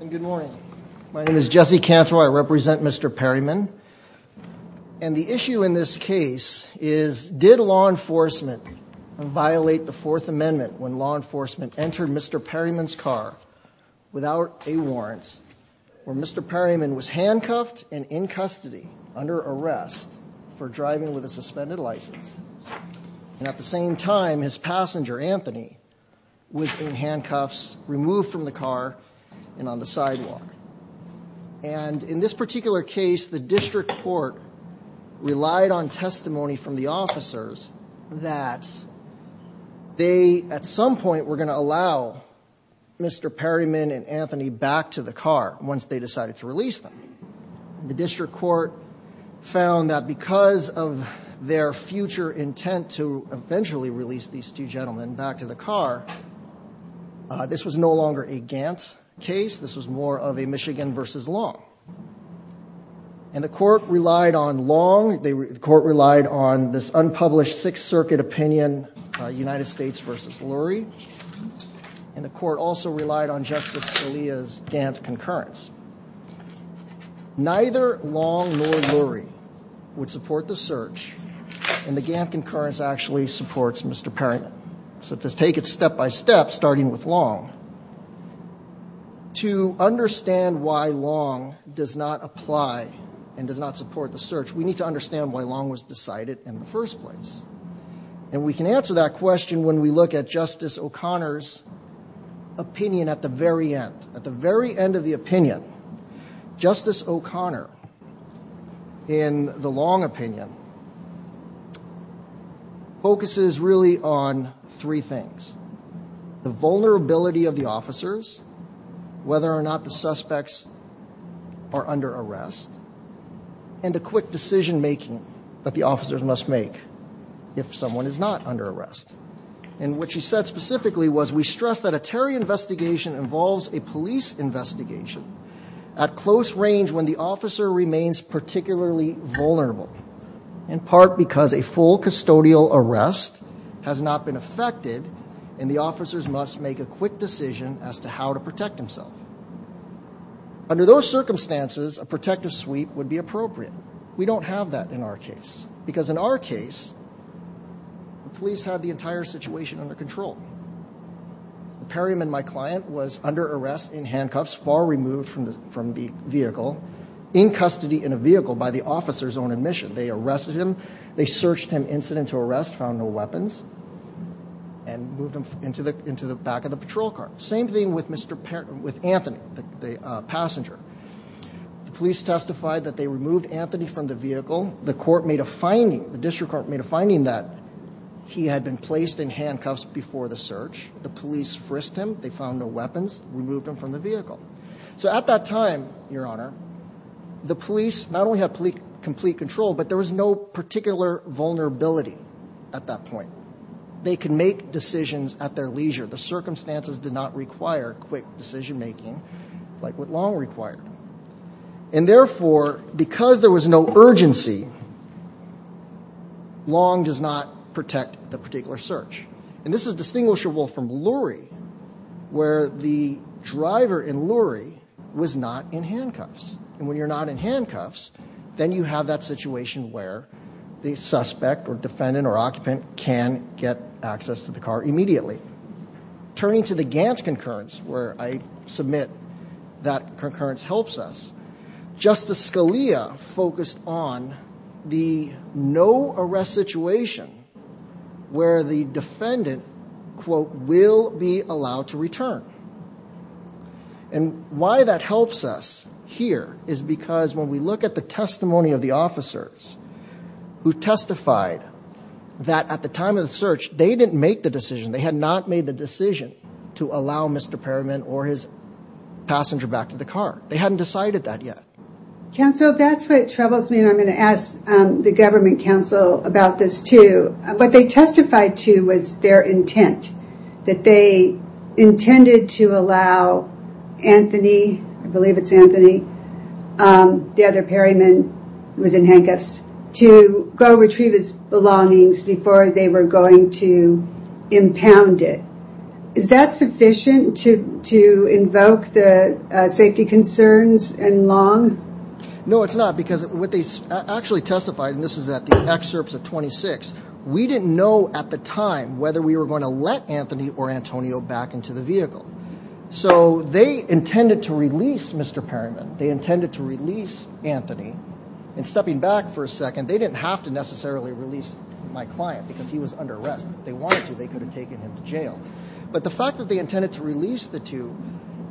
Good morning. My name is Jesse Cantor. I represent Mr. Perryman. And the issue in this case is did law enforcement violate the Fourth Amendment when law enforcement entered Mr. Perryman's car without a warrant? where Mr. Perryman was handcuffed and in custody under arrest for driving with a suspended license. And at the same time, his passenger, Anthony, was in handcuffs, removed from the car, and on the sidewalk. And in this particular case, the district court relied on testimony from the officers that they, at some point, were going to allow Mr. Perryman and Anthony back to the car once they decided to release them. The district court found that because of their future intent to eventually release these two gentlemen back to the car, this was no longer a Gantt case. This was more of a Michigan v. Long. And the court relied on Long. The court relied on this unpublished Sixth Circuit opinion, United States v. Lurie. And the court also relied on Justice Scalia's Gantt concurrence. Neither Long nor Lurie would support the search, and the Gantt concurrence actually supports Mr. Perryman. So to take it step by step, starting with Long, to understand why Long does not apply and does not support the search, we need to understand why Long was decided in the first place. And we can answer that question when we look at Justice O'Connor's opinion at the very end. At the very end of the opinion, Justice O'Connor, in the Long opinion, focuses really on three things. The vulnerability of the officers, whether or not the suspects are under arrest, and the quick decision-making that the officers must make if someone is not under arrest. And what she said specifically was, And we stress that a terror investigation involves a police investigation at close range when the officer remains particularly vulnerable, in part because a full custodial arrest has not been affected and the officers must make a quick decision as to how to protect themselves. Under those circumstances, a protective sweep would be appropriate. We don't have that in our case. Because in our case, the police had the entire situation under control. Perryman, my client, was under arrest in handcuffs, far removed from the vehicle, in custody in a vehicle by the officers on admission. They arrested him, they searched him incident to arrest, found no weapons, and moved him into the back of the patrol car. Same thing with Anthony, the passenger. The police testified that they removed Anthony from the vehicle. The court made a finding, the district court made a finding that he had been placed in handcuffs before the search. The police frisked him, they found no weapons, removed him from the vehicle. So at that time, Your Honor, the police not only had complete control, but there was no particular vulnerability at that point. They can make decisions at their leisure. The circumstances did not require quick decision making like what Long required. And therefore, because there was no urgency, Long does not protect the particular search. And this is distinguishable from Lurie, where the driver in Lurie was not in handcuffs. And when you're not in handcuffs, then you have that situation where the suspect or defendant or occupant can get access to the car immediately. Turning to the Gantt concurrence, where I submit that concurrence helps us, Justice Scalia focused on the no-arrest situation where the defendant, quote, will be allowed to return. And why that helps us here is because when we look at the testimony of the officers who testified that at the time of the search, they didn't make the decision. They had not made the decision to allow Mr. Perryman or his passenger back to the car. They hadn't decided that yet. Counsel, that's what troubles me. And I'm going to ask the government counsel about this too. What they testified to was their intent, that they intended to allow Anthony, I believe it's Anthony, the other Perryman who was in handcuffs, to go retrieve his belongings before they were going to impound it. Is that sufficient to invoke the safety concerns in Long? No, it's not, because what they actually testified, and this is at the excerpts of 26, we didn't know at the time whether we were going to let Anthony or Antonio back into the vehicle. So they intended to release Mr. Perryman. They intended to release Anthony. And stepping back for a second, they didn't have to necessarily release my client because he was under arrest. If they wanted to, they could have taken him to jail. But the fact that they intended to release the two,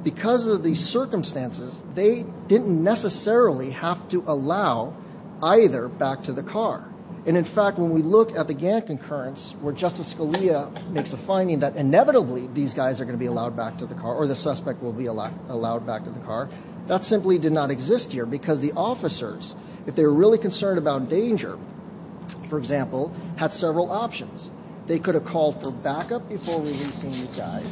because of the circumstances, they didn't necessarily have to allow either back to the car. And, in fact, when we look at the Gantt concurrence, where Justice Scalia makes a finding that inevitably these guys are going to be allowed back to the car or the suspect will be allowed back to the car, that simply did not exist here because the officers, if they were really concerned about danger, for example, had several options. They could have called for backup before releasing these guys.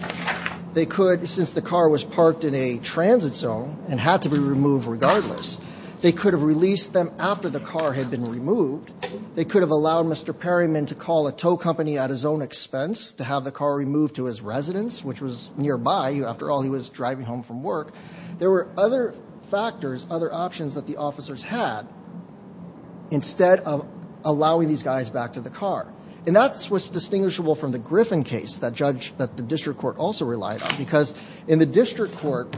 They could, since the car was parked in a transit zone and had to be removed regardless, they could have released them after the car had been removed. They could have allowed Mr. Perryman to call a tow company at his own expense to have the car removed to his residence, which was nearby. After all, he was driving home from work. There were other factors, other options that the officers had instead of allowing these guys back to the car. And that's what's distinguishable from the Griffin case, that judge that the district court also relied on, because in the district court,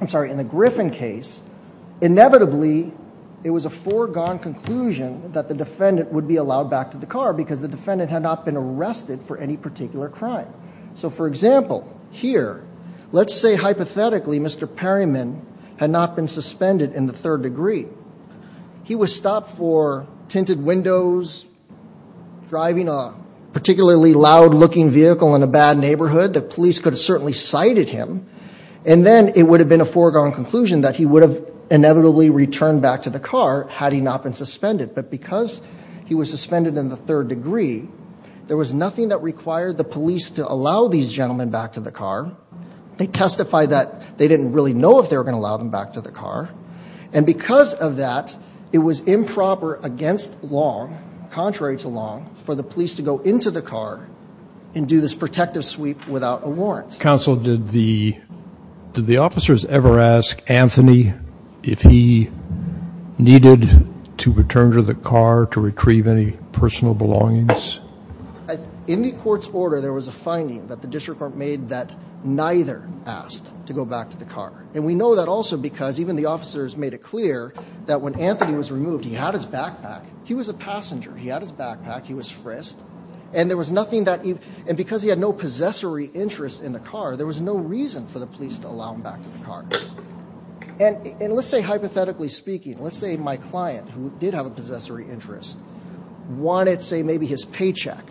I'm sorry, in the Griffin case, inevitably it was a foregone conclusion that the defendant would be allowed back to the car because the defendant had not been arrested for any particular crime. So, for example, here, let's say hypothetically Mr. Perryman had not been suspended in the third degree. He was stopped for tinted windows, driving a particularly loud-looking vehicle in a bad neighborhood. The police could have certainly cited him. And then it would have been a foregone conclusion that he would have inevitably returned back to the car had he not been suspended. But because he was suspended in the third degree, there was nothing that required the police to allow these gentlemen back to the car. They testified that they didn't really know if they were going to allow them back to the car. And because of that, it was improper against Long, contrary to Long, for the police to go into the car and do this protective sweep without a warrant. Counsel, did the officers ever ask Anthony if he needed to return to the car to retrieve any personal belongings? In the court's order, there was a finding that the district court made that neither asked to go back to the car. And we know that also because even the officers made it clear that when Anthony was removed, he had his backpack. He was a passenger. He had his backpack. He was frisked. And there was nothing that he – and because he had no possessory interest in the car, there was no reason for the police to allow him back to the car. And let's say hypothetically speaking, let's say my client, who did have a possessory interest, wanted, say, maybe his paycheck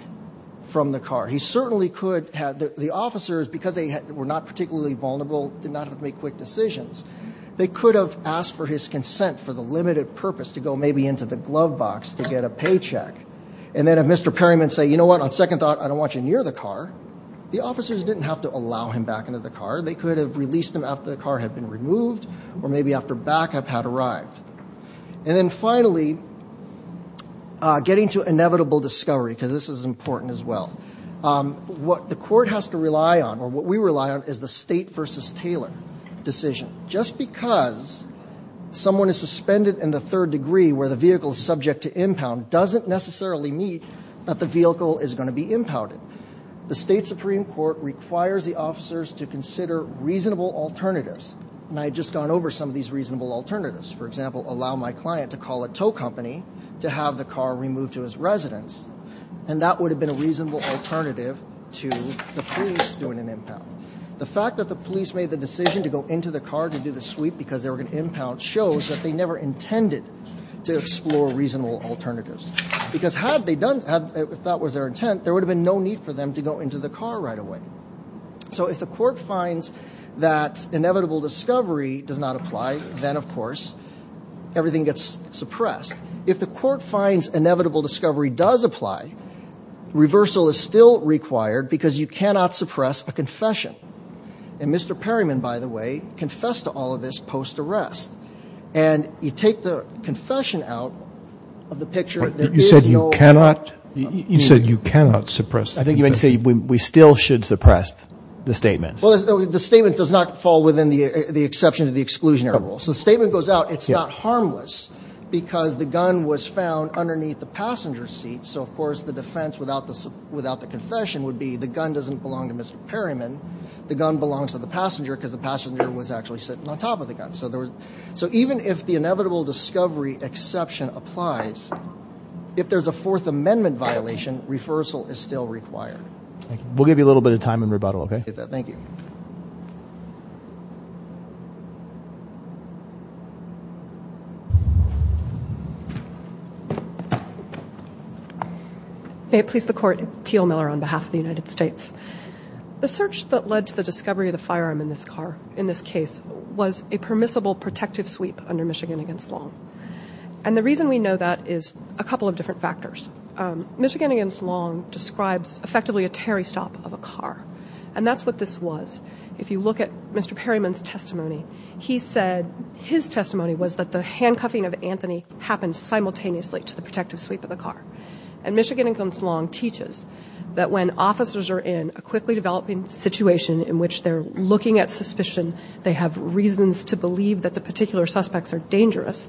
from the car. He certainly could have – the officers, because they were not particularly vulnerable, did not have to make quick decisions. They could have asked for his consent for the limited purpose to go maybe into the glove box to get a paycheck. And then if Mr. Perryman said, you know what, on second thought, I don't want you near the car, the officers didn't have to allow him back into the car. They could have released him after the car had been removed or maybe after backup had arrived. And then finally, getting to inevitable discovery, because this is important as well, what the court has to rely on or what we rely on is the State v. Taylor decision. Just because someone is suspended in the third degree where the vehicle is subject to impound doesn't necessarily mean that the vehicle is going to be impounded. The State Supreme Court requires the officers to consider reasonable alternatives. And I had just gone over some of these reasonable alternatives. For example, allow my client to call a tow company to have the car removed to his residence. And that would have been a reasonable alternative to the police doing an impound. The fact that the police made the decision to go into the car to do the sweep because they were going to impound shows that they never intended to explore reasonable alternatives. Because had they done, if that was their intent, there would have been no need for them to go into the car right away. So if the court finds that inevitable discovery does not apply, then, of course, everything gets suppressed. If the court finds inevitable discovery does apply, reversal is still required because you cannot suppress a confession. And Mr. Perryman, by the way, confessed to all of this post-arrest. And you take the confession out of the picture, there is no way. Roberts. You said you cannot suppress the confession. I think you meant to say we still should suppress the statement. Well, the statement does not fall within the exception to the exclusionary rule. So the statement goes out. It's not harmless because the gun was found underneath the passenger seat. So, of course, the defense without the confession would be the gun doesn't belong to Mr. Perryman. The gun belongs to the passenger because the passenger was actually sitting on top of the gun. So even if the inevitable discovery exception applies, if there's a Fourth Amendment violation, reversal is still required. We'll give you a little bit of time in rebuttal, okay? Thank you. May it please the Court. Teal Miller on behalf of the United States. The search that led to the discovery of the firearm in this case was a permissible protective sweep under Michigan v. Long. And the reason we know that is a couple of different factors. Michigan v. Long describes effectively a Terry stop of a car, and that's what this was. If you look at Mr. Perryman's testimony, he said his testimony was that the handcuffing of Anthony happened simultaneously to the protective sweep of the car. And Michigan v. Long teaches that when officers are in a quickly developing situation in which they're looking at suspicion, they have reasons to believe that the particular suspects are dangerous,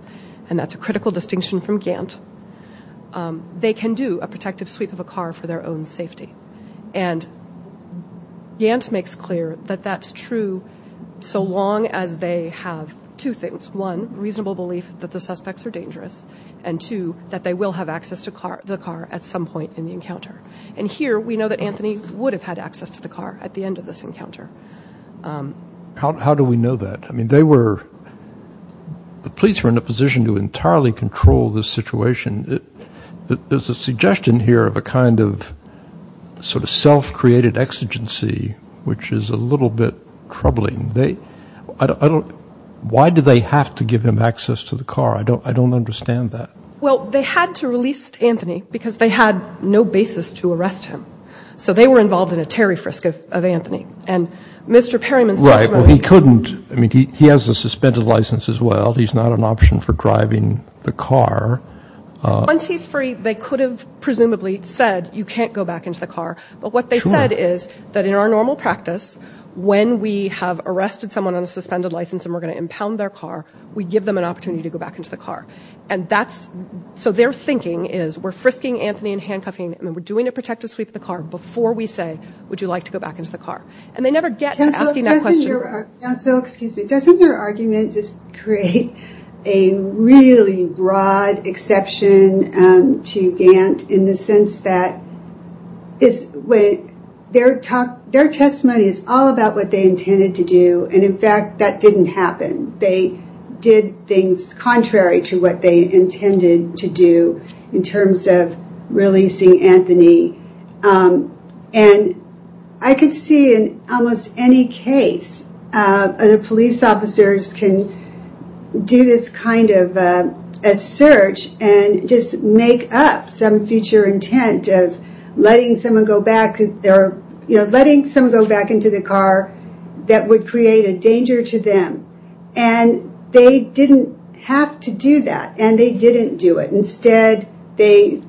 and that's a critical distinction from Gantt, they can do a protective sweep of a car for their own safety. And Gantt makes clear that that's true so long as they have two things, one, reasonable belief that the suspects are dangerous, and two, that they will have access to the car at some point in the encounter. And here we know that Anthony would have had access to the car at the end of this encounter. How do we know that? I mean, the police were in a position to entirely control this situation. There's a suggestion here of a kind of sort of self-created exigency, which is a little bit troubling. They don't why do they have to give him access to the car? I don't understand that. Well, they had to release Anthony because they had no basis to arrest him. So they were involved in a Terry frisk of Anthony. And Mr. Perryman's testimony. Right, well, he couldn't. I mean, he has a suspended license as well. He's not an option for driving the car. Once he's free, they could have presumably said, you can't go back into the car. But what they said is that in our normal practice, when we have arrested someone on a suspended license and we're going to impound their car, we give them an opportunity to go back into the car. And that's so their thinking is we're frisking Anthony and handcuffing him, and we're doing a protective sweep of the car before we say, would you like to go back into the car? And they never get to asking that question. Excuse me, doesn't your argument just create a really broad exception to Gant in the sense that their testimony is all about what they intended to do. And in fact, that didn't happen. They did things contrary to what they intended to do in terms of releasing Anthony. And I could see in almost any case, the police officers can do this kind of a search and just make up some future intent of letting someone go back into the car that would create a danger to them. And they didn't have to do that, and they didn't do it. Instead, they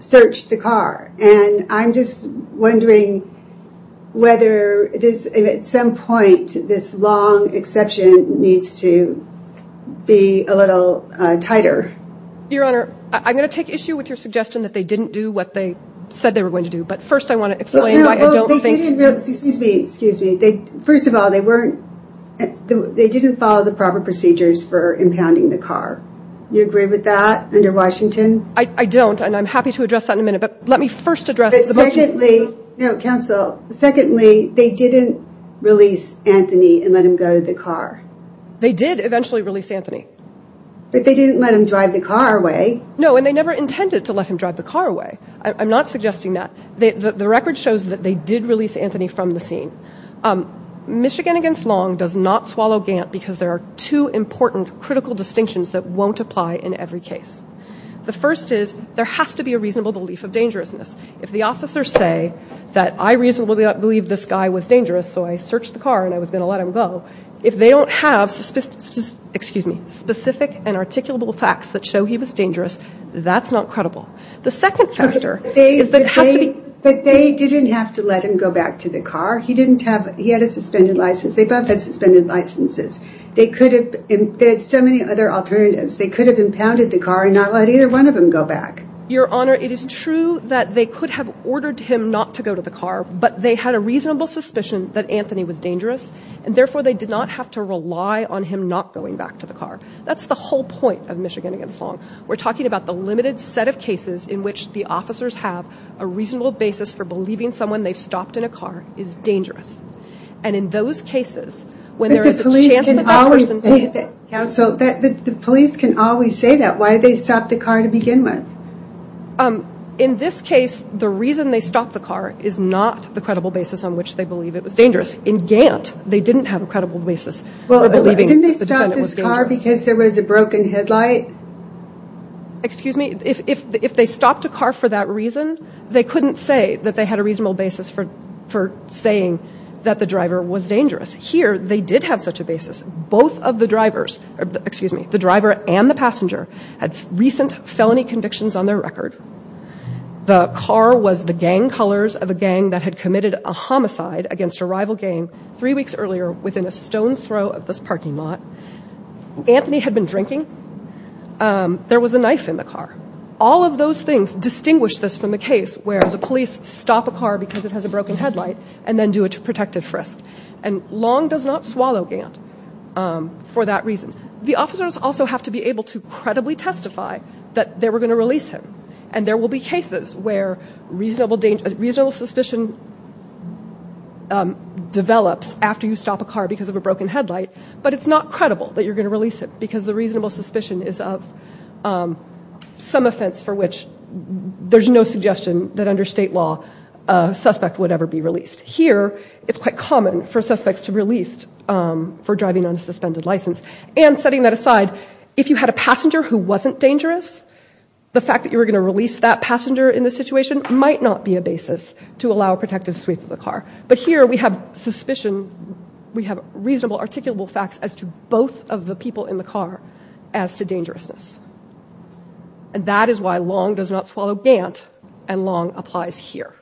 searched the car. And I'm just wondering whether at some point this long exception needs to be a little tighter. Your Honor, I'm going to take issue with your suggestion that they didn't do what they said they were going to do. But first I want to explain why I don't think... Excuse me, excuse me. First of all, they didn't follow the proper procedures for impounding the car. You agree with that under Washington? I don't, and I'm happy to address that in a minute. But let me first address... But secondly, no, counsel, secondly, they didn't release Anthony and let him go to the car. They did eventually release Anthony. But they didn't let him drive the car away. No, and they never intended to let him drive the car away. I'm not suggesting that. The record shows that they did release Anthony from the scene. Michigan against Long does not swallow Gant because there are two important critical distinctions that won't apply in every case. The first is there has to be a reasonable belief of dangerousness. If the officers say that I reasonably believe this guy was dangerous, so I searched the car and I was going to let him go, if they don't have specific and articulable facts that show he was dangerous, that's not credible. The second factor is that it has to be... But they didn't have to let him go back to the car. He had a suspended license. They both had suspended licenses. They could have... They had so many other alternatives. They could have impounded the car and not let either one of them go back. Your Honor, it is true that they could have ordered him not to go to the car, but they had a reasonable suspicion that Anthony was dangerous, and therefore they did not have to rely on him not going back to the car. That's the whole point of Michigan against Long. We're talking about the limited set of cases in which the officers have a reasonable basis for believing someone they've stopped in a car is dangerous. And in those cases, when there is a chance that that person... But the police can always say that, Counsel. The police can always say that. Why did they stop the car to begin with? In this case, the reason they stopped the car is not the credible basis on which they believe it was dangerous. In Gant, they didn't have a credible basis for believing that the defendant was dangerous. Well, didn't they stop this car because there was a broken headlight? Excuse me? If they stopped a car for that reason, they couldn't say that they had a reasonable basis for saying that the driver was dangerous. Here, they did have such a basis. Both of the drivers, excuse me, the driver and the passenger, had recent felony convictions on their record. The car was the gang colors of a gang that had committed a homicide against a rival gang three weeks earlier within a stone's throw of this parking lot. Anthony had been drinking. There was a knife in the car. All of those things distinguish this from the case where the police stop a car because it has a broken headlight and then do a protective frisk, and Long does not swallow Gant for that reason. The officers also have to be able to credibly testify that they were going to release him, and there will be cases where reasonable suspicion develops after you stop a car because of a broken headlight, but it's not credible that you're going to release him because the reasonable suspicion is of some offense for which there's no suggestion that under state law a suspect would ever be released. Here, it's quite common for suspects to be released for driving under a suspended license. And setting that aside, if you had a passenger who wasn't dangerous, the fact that you were going to release that passenger in this situation might not be a basis to allow a protective sweep of the car. But here, we have suspicion. We have reasonable, articulable facts as to both of the people in the car as to dangerousness. And that is why Long does not swallow Gant, and Long applies here.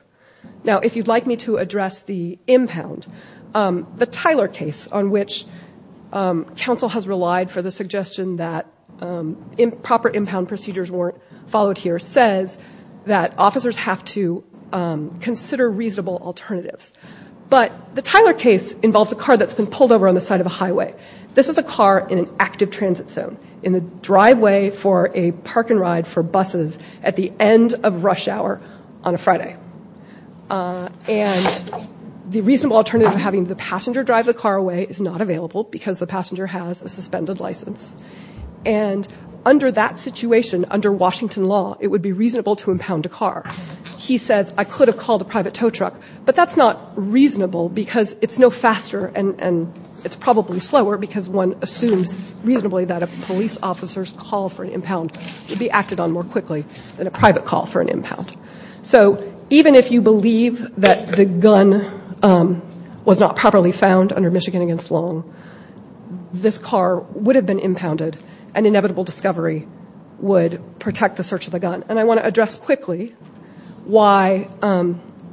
Now, if you'd like me to address the impound, the Tyler case, on which counsel has relied for the suggestion that proper impound procedures weren't followed here, it says that officers have to consider reasonable alternatives. But the Tyler case involves a car that's been pulled over on the side of a highway. This is a car in an active transit zone, in the driveway for a park-and-ride for buses at the end of rush hour on a Friday. And the reasonable alternative of having the passenger drive the car away is not available because the passenger has a suspended license. And under that situation, under Washington law, it would be reasonable to impound a car. He says, I could have called a private tow truck, but that's not reasonable because it's no faster and it's probably slower because one assumes reasonably that a police officer's call for an impound would be acted on more quickly than a private call for an impound. So even if you believe that the gun was not properly found under Michigan v. Long, this car would have been impounded and inevitable discovery would protect the search of the gun. And I want to address quickly why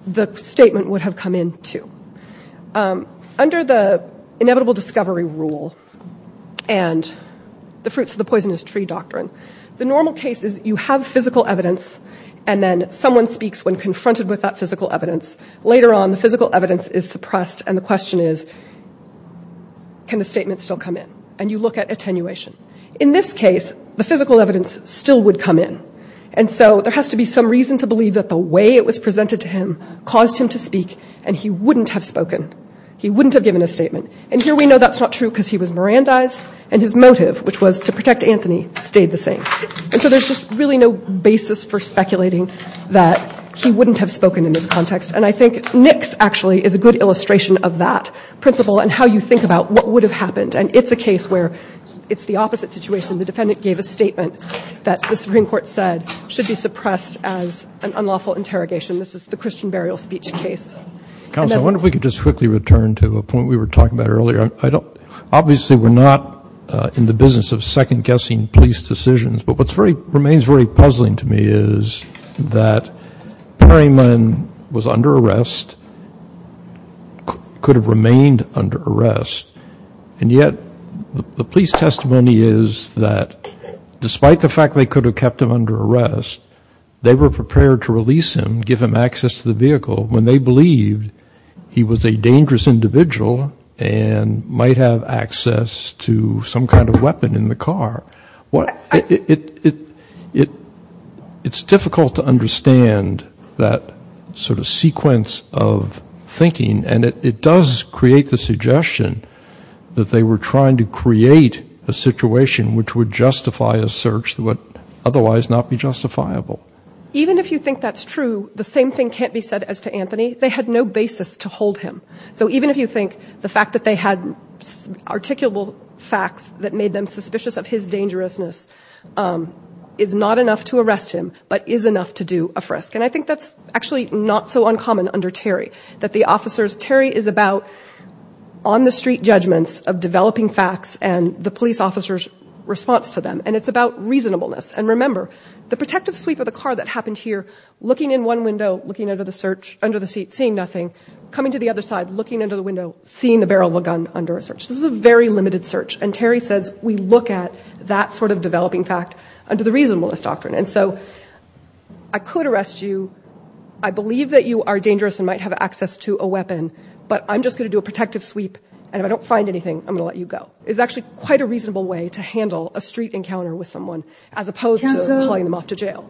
the statement would have come in, too. Under the inevitable discovery rule and the fruits of the poisonous tree doctrine, the normal case is you have physical evidence and then someone speaks when confronted with that physical evidence. Later on, the physical evidence is suppressed and the question is, can the statement still come in? And you look at attenuation. In this case, the physical evidence still would come in. And so there has to be some reason to believe that the way it was presented to him caused him to speak and he wouldn't have spoken. He wouldn't have given a statement. And here we know that's not true because he was Mirandized and his motive, which was to protect Anthony, stayed the same. And so there's just really no basis for speculating that he wouldn't have spoken in this context. And I think Nix actually is a good illustration of that principle and how you think about what would have happened. And it's a case where it's the opposite situation. The defendant gave a statement that the Supreme Court said should be suppressed as an unlawful interrogation. This is the Christian burial speech case. Roberts. I wonder if we could just quickly return to a point we were talking about earlier. Obviously, we're not in the business of second-guessing police decisions. But what remains very puzzling to me is that Perryman was under arrest, could have remained under arrest, and yet the police testimony is that despite the fact they could have kept him under arrest, they were prepared to release him, give him access to the vehicle, when they believed he was a dangerous individual and might have access to some kind of weapon in the car. It's difficult to understand that sort of sequence of thinking, and it does create the suggestion that they were trying to create a situation which would justify a search that would otherwise not be justifiable. Even if you think that's true, the same thing can't be said as to Anthony. They had no basis to hold him. So even if you think the fact that they had articulable facts that made them suspicious of his dangerousness is not enough to arrest him, but is enough to do a frisk. And I think that's actually not so uncommon under Terry. Terry is about on-the-street judgments of developing facts and the police officer's response to them, and it's about reasonableness. And remember, the protective sweep of the car that happened here, looking in one window, looking under the seat, seeing nothing, coming to the other side, looking under the window, seeing the barrel of a gun under a search. This is a very limited search. And Terry says we look at that sort of developing fact under the reasonableness doctrine. And so I could arrest you. I believe that you are dangerous and might have access to a weapon, but I'm just going to do a protective sweep, and if I don't find anything, I'm going to let you go. It's actually quite a reasonable way to handle a street encounter with someone as opposed to hauling them off to jail.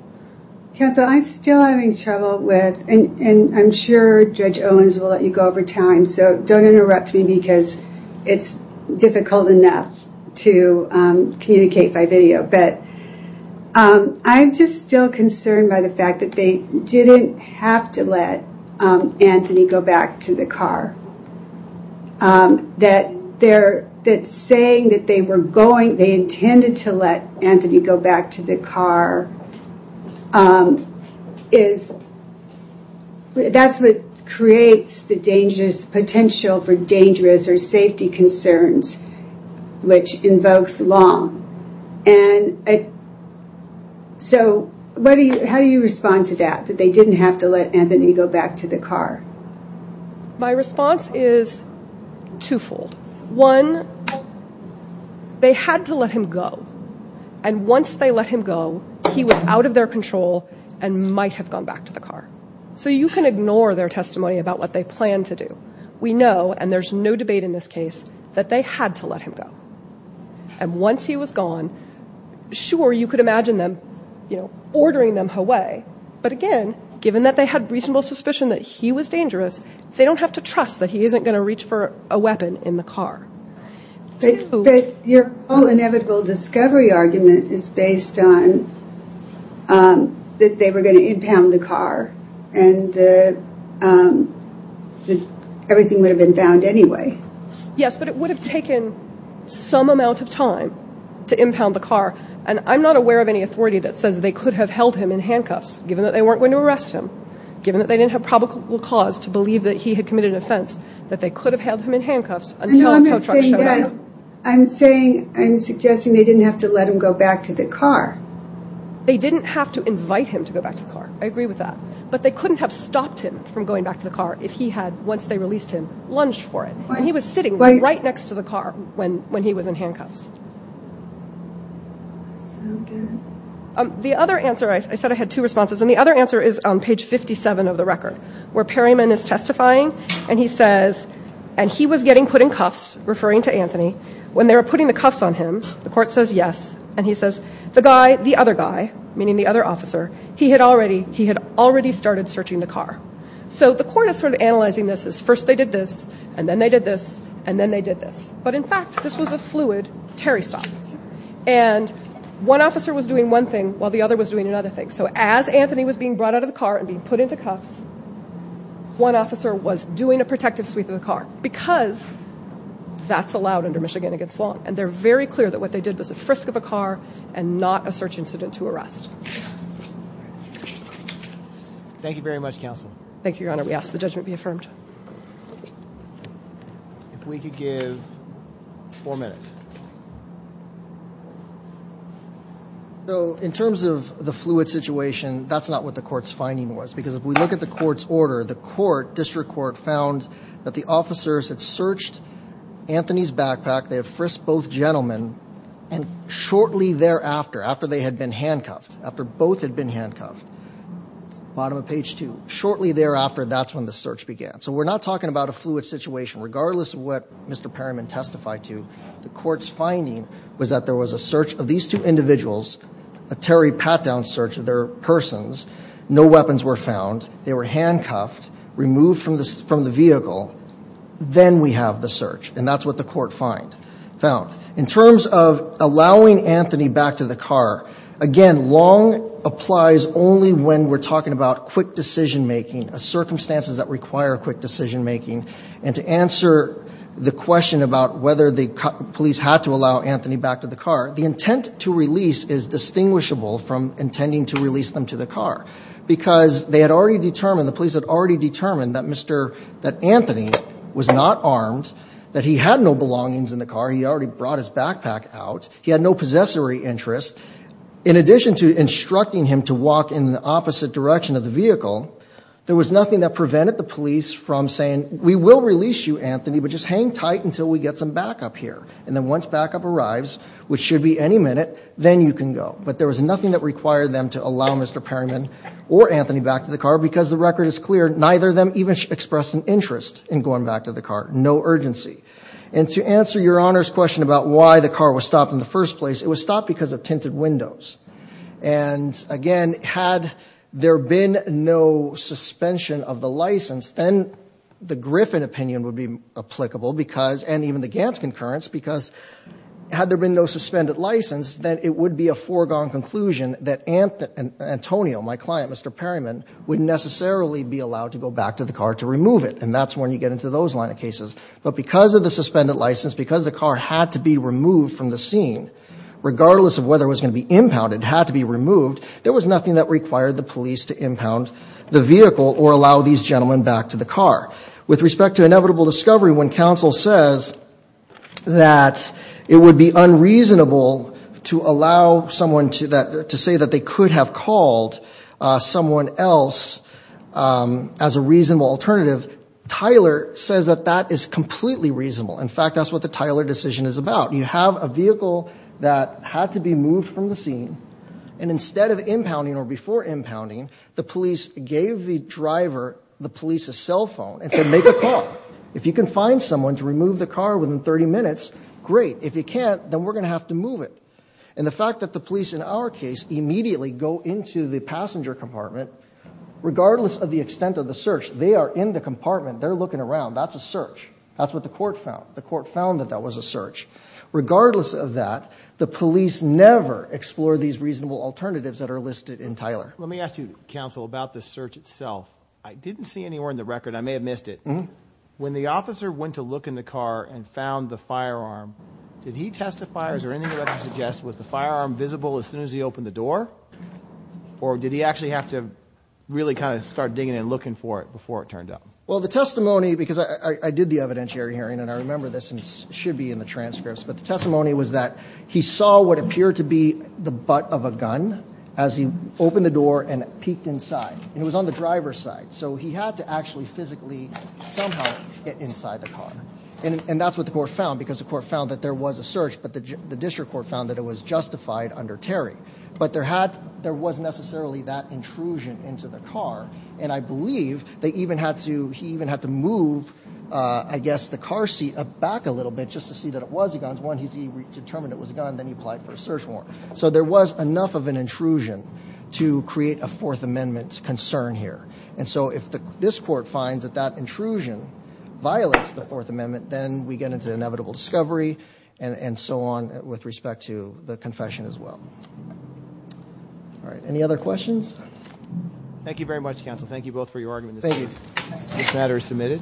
Counsel, I'm still having trouble with, and I'm sure Judge Owens will let you go over time, so don't interrupt me because it's difficult enough to communicate by video. But I'm just still concerned by the fact that they didn't have to let Anthony go back to the car, that saying that they were going, they intended to let Anthony go back to the car, that's what creates the potential for dangerous or safety concerns, which invokes long. And so how do you respond to that, that they didn't have to let Anthony go back to the car? My response is twofold. One, they had to let him go, and once they let him go, he was out of their control and might have gone back to the car. So you can ignore their testimony about what they planned to do. We know, and there's no debate in this case, that they had to let him go. And once he was gone, sure, you could imagine them ordering them away, but again, given that they had reasonable suspicion that he was dangerous, they don't have to trust that he isn't going to reach for a weapon in the car. But your whole inevitable discovery argument is based on that they were going to impound the car and that everything would have been found anyway. Yes, but it would have taken some amount of time to impound the car, and I'm not aware of any authority that says they could have held him in handcuffs, given that they weren't going to arrest him, given that they didn't have probable cause to believe that he had committed an offense, that they could have held him in handcuffs until a tow truck showed up. No, I'm not saying that. I'm suggesting they didn't have to let him go back to the car. They didn't have to invite him to go back to the car. I agree with that. But they couldn't have stopped him from going back to the car if he had, once they released him, lunged for it. He was sitting right next to the car when he was in handcuffs. So good. The other answer, I said I had two responses, and the other answer is on page 57 of the record, where Perryman is testifying, and he says, and he was getting put in cuffs, referring to Anthony, when they were putting the cuffs on him, the court says yes, and he says, the guy, the other guy, meaning the other officer, he had already started searching the car. So the court is sort of analyzing this as first they did this, and then they did this, and then they did this. But, in fact, this was a fluid Terry stop. And one officer was doing one thing while the other was doing another thing. So as Anthony was being brought out of the car and being put into cuffs, one officer was doing a protective sweep of the car because that's allowed under Michigan against law, and they're very clear that what they did was a frisk of a car and not a search incident to arrest. Thank you very much, Counsel. Thank you, Your Honor. We ask that the judgment be affirmed. If we could give four minutes. So, in terms of the fluid situation, that's not what the court's finding was because if we look at the court's order, the court, district court, found that the officers had searched Anthony's backpack, they had frisked both gentlemen, and shortly thereafter, after they had been handcuffed, after both had been handcuffed, bottom of page 2, shortly thereafter, that's when the search began. So we're not talking about a fluid situation. Regardless of what Mr. Perryman testified to, the court's finding was that there was a search of these two individuals, a Terry Patdown search of their persons, no weapons were found, they were handcuffed, removed from the vehicle, then we have the search, and that's what the court found. In terms of allowing Anthony back to the car, again, long applies only when we're talking about quick decision-making, circumstances that require quick decision-making, and to answer the question about whether the police had to allow Anthony back to the car, the intent to release is distinguishable from intending to release them to the car because they had already determined, the police had already determined, that Anthony was not armed, that he had no belongings in the car, he already brought his backpack out, he had no possessory interest. In addition to instructing him to walk in the opposite direction of the vehicle, there was nothing that prevented the police from saying, we will release you, Anthony, but just hang tight until we get some backup here. And then once backup arrives, which should be any minute, then you can go. But there was nothing that required them to allow Mr. Perryman or Anthony back to the car because the record is clear, neither of them even expressed an interest in going back to the car. No urgency. And to answer Your Honor's question about why the car was stopped in the first place, it was stopped because of tinted windows. And again, had there been no suspension of the license, then the Griffin opinion would be applicable because, and even the Gantt concurrence, because had there been no suspended license, then it would be a foregone conclusion that Antonio, my client, Mr. Perryman, would necessarily be allowed to go back to the car to remove it. And that's when you get into those line of cases. But because of the suspended license, because the car had to be removed from the scene, regardless of whether it was going to be impounded, it had to be removed, there was nothing that required the police to impound the vehicle or allow these gentlemen back to the car. With respect to inevitable discovery, when counsel says that it would be unreasonable to allow someone to say that they could have called someone else as a reasonable alternative, Tyler says that that is completely reasonable. In fact, that's what the Tyler decision is about. You have a vehicle that had to be moved from the scene, and instead of impounding or before impounding, the police gave the driver the police's cell phone and said, make a call. If you can find someone to remove the car within 30 minutes, great. If you can't, then we're going to have to move it. And the fact that the police in our case immediately go into the passenger compartment, regardless of the extent of the search, they are in the compartment, they're looking around. That's a search. That's what the court found. The court found that that was a search. Regardless of that, the police never explore these reasonable alternatives that are listed in Tyler. Let me ask you, counsel, about the search itself. I didn't see anywhere in the record. I may have missed it. When the officer went to look in the car and found the firearm, did he testify or is there anything you'd like to suggest? Was the firearm visible as soon as he opened the door? Or did he actually have to really kind of start digging and looking for it before it turned up? Well, the testimony, because I did the evidentiary hearing, and I remember this and it should be in the transcripts, but the testimony was that he saw what appeared to be the butt of a gun as he opened the door and peeked inside. And it was on the driver's side. So he had to actually physically somehow get inside the car. And that's what the court found, because the court found that there was a search, but the district court found that it was justified under Terry. But there was necessarily that intrusion into the car, and I believe they even had to, he even had to move, I guess, the car seat back a little bit just to see that it was a gun. Once he determined it was a gun, then he applied for a search warrant. So there was enough of an intrusion to create a Fourth Amendment concern here. And so if this court finds that that intrusion violates the Fourth Amendment, then we get into inevitable discovery and so on with respect to the confession as well. All right. Any other questions? Thank you very much, counsel. Thank you both for your argument. This matter is submitted.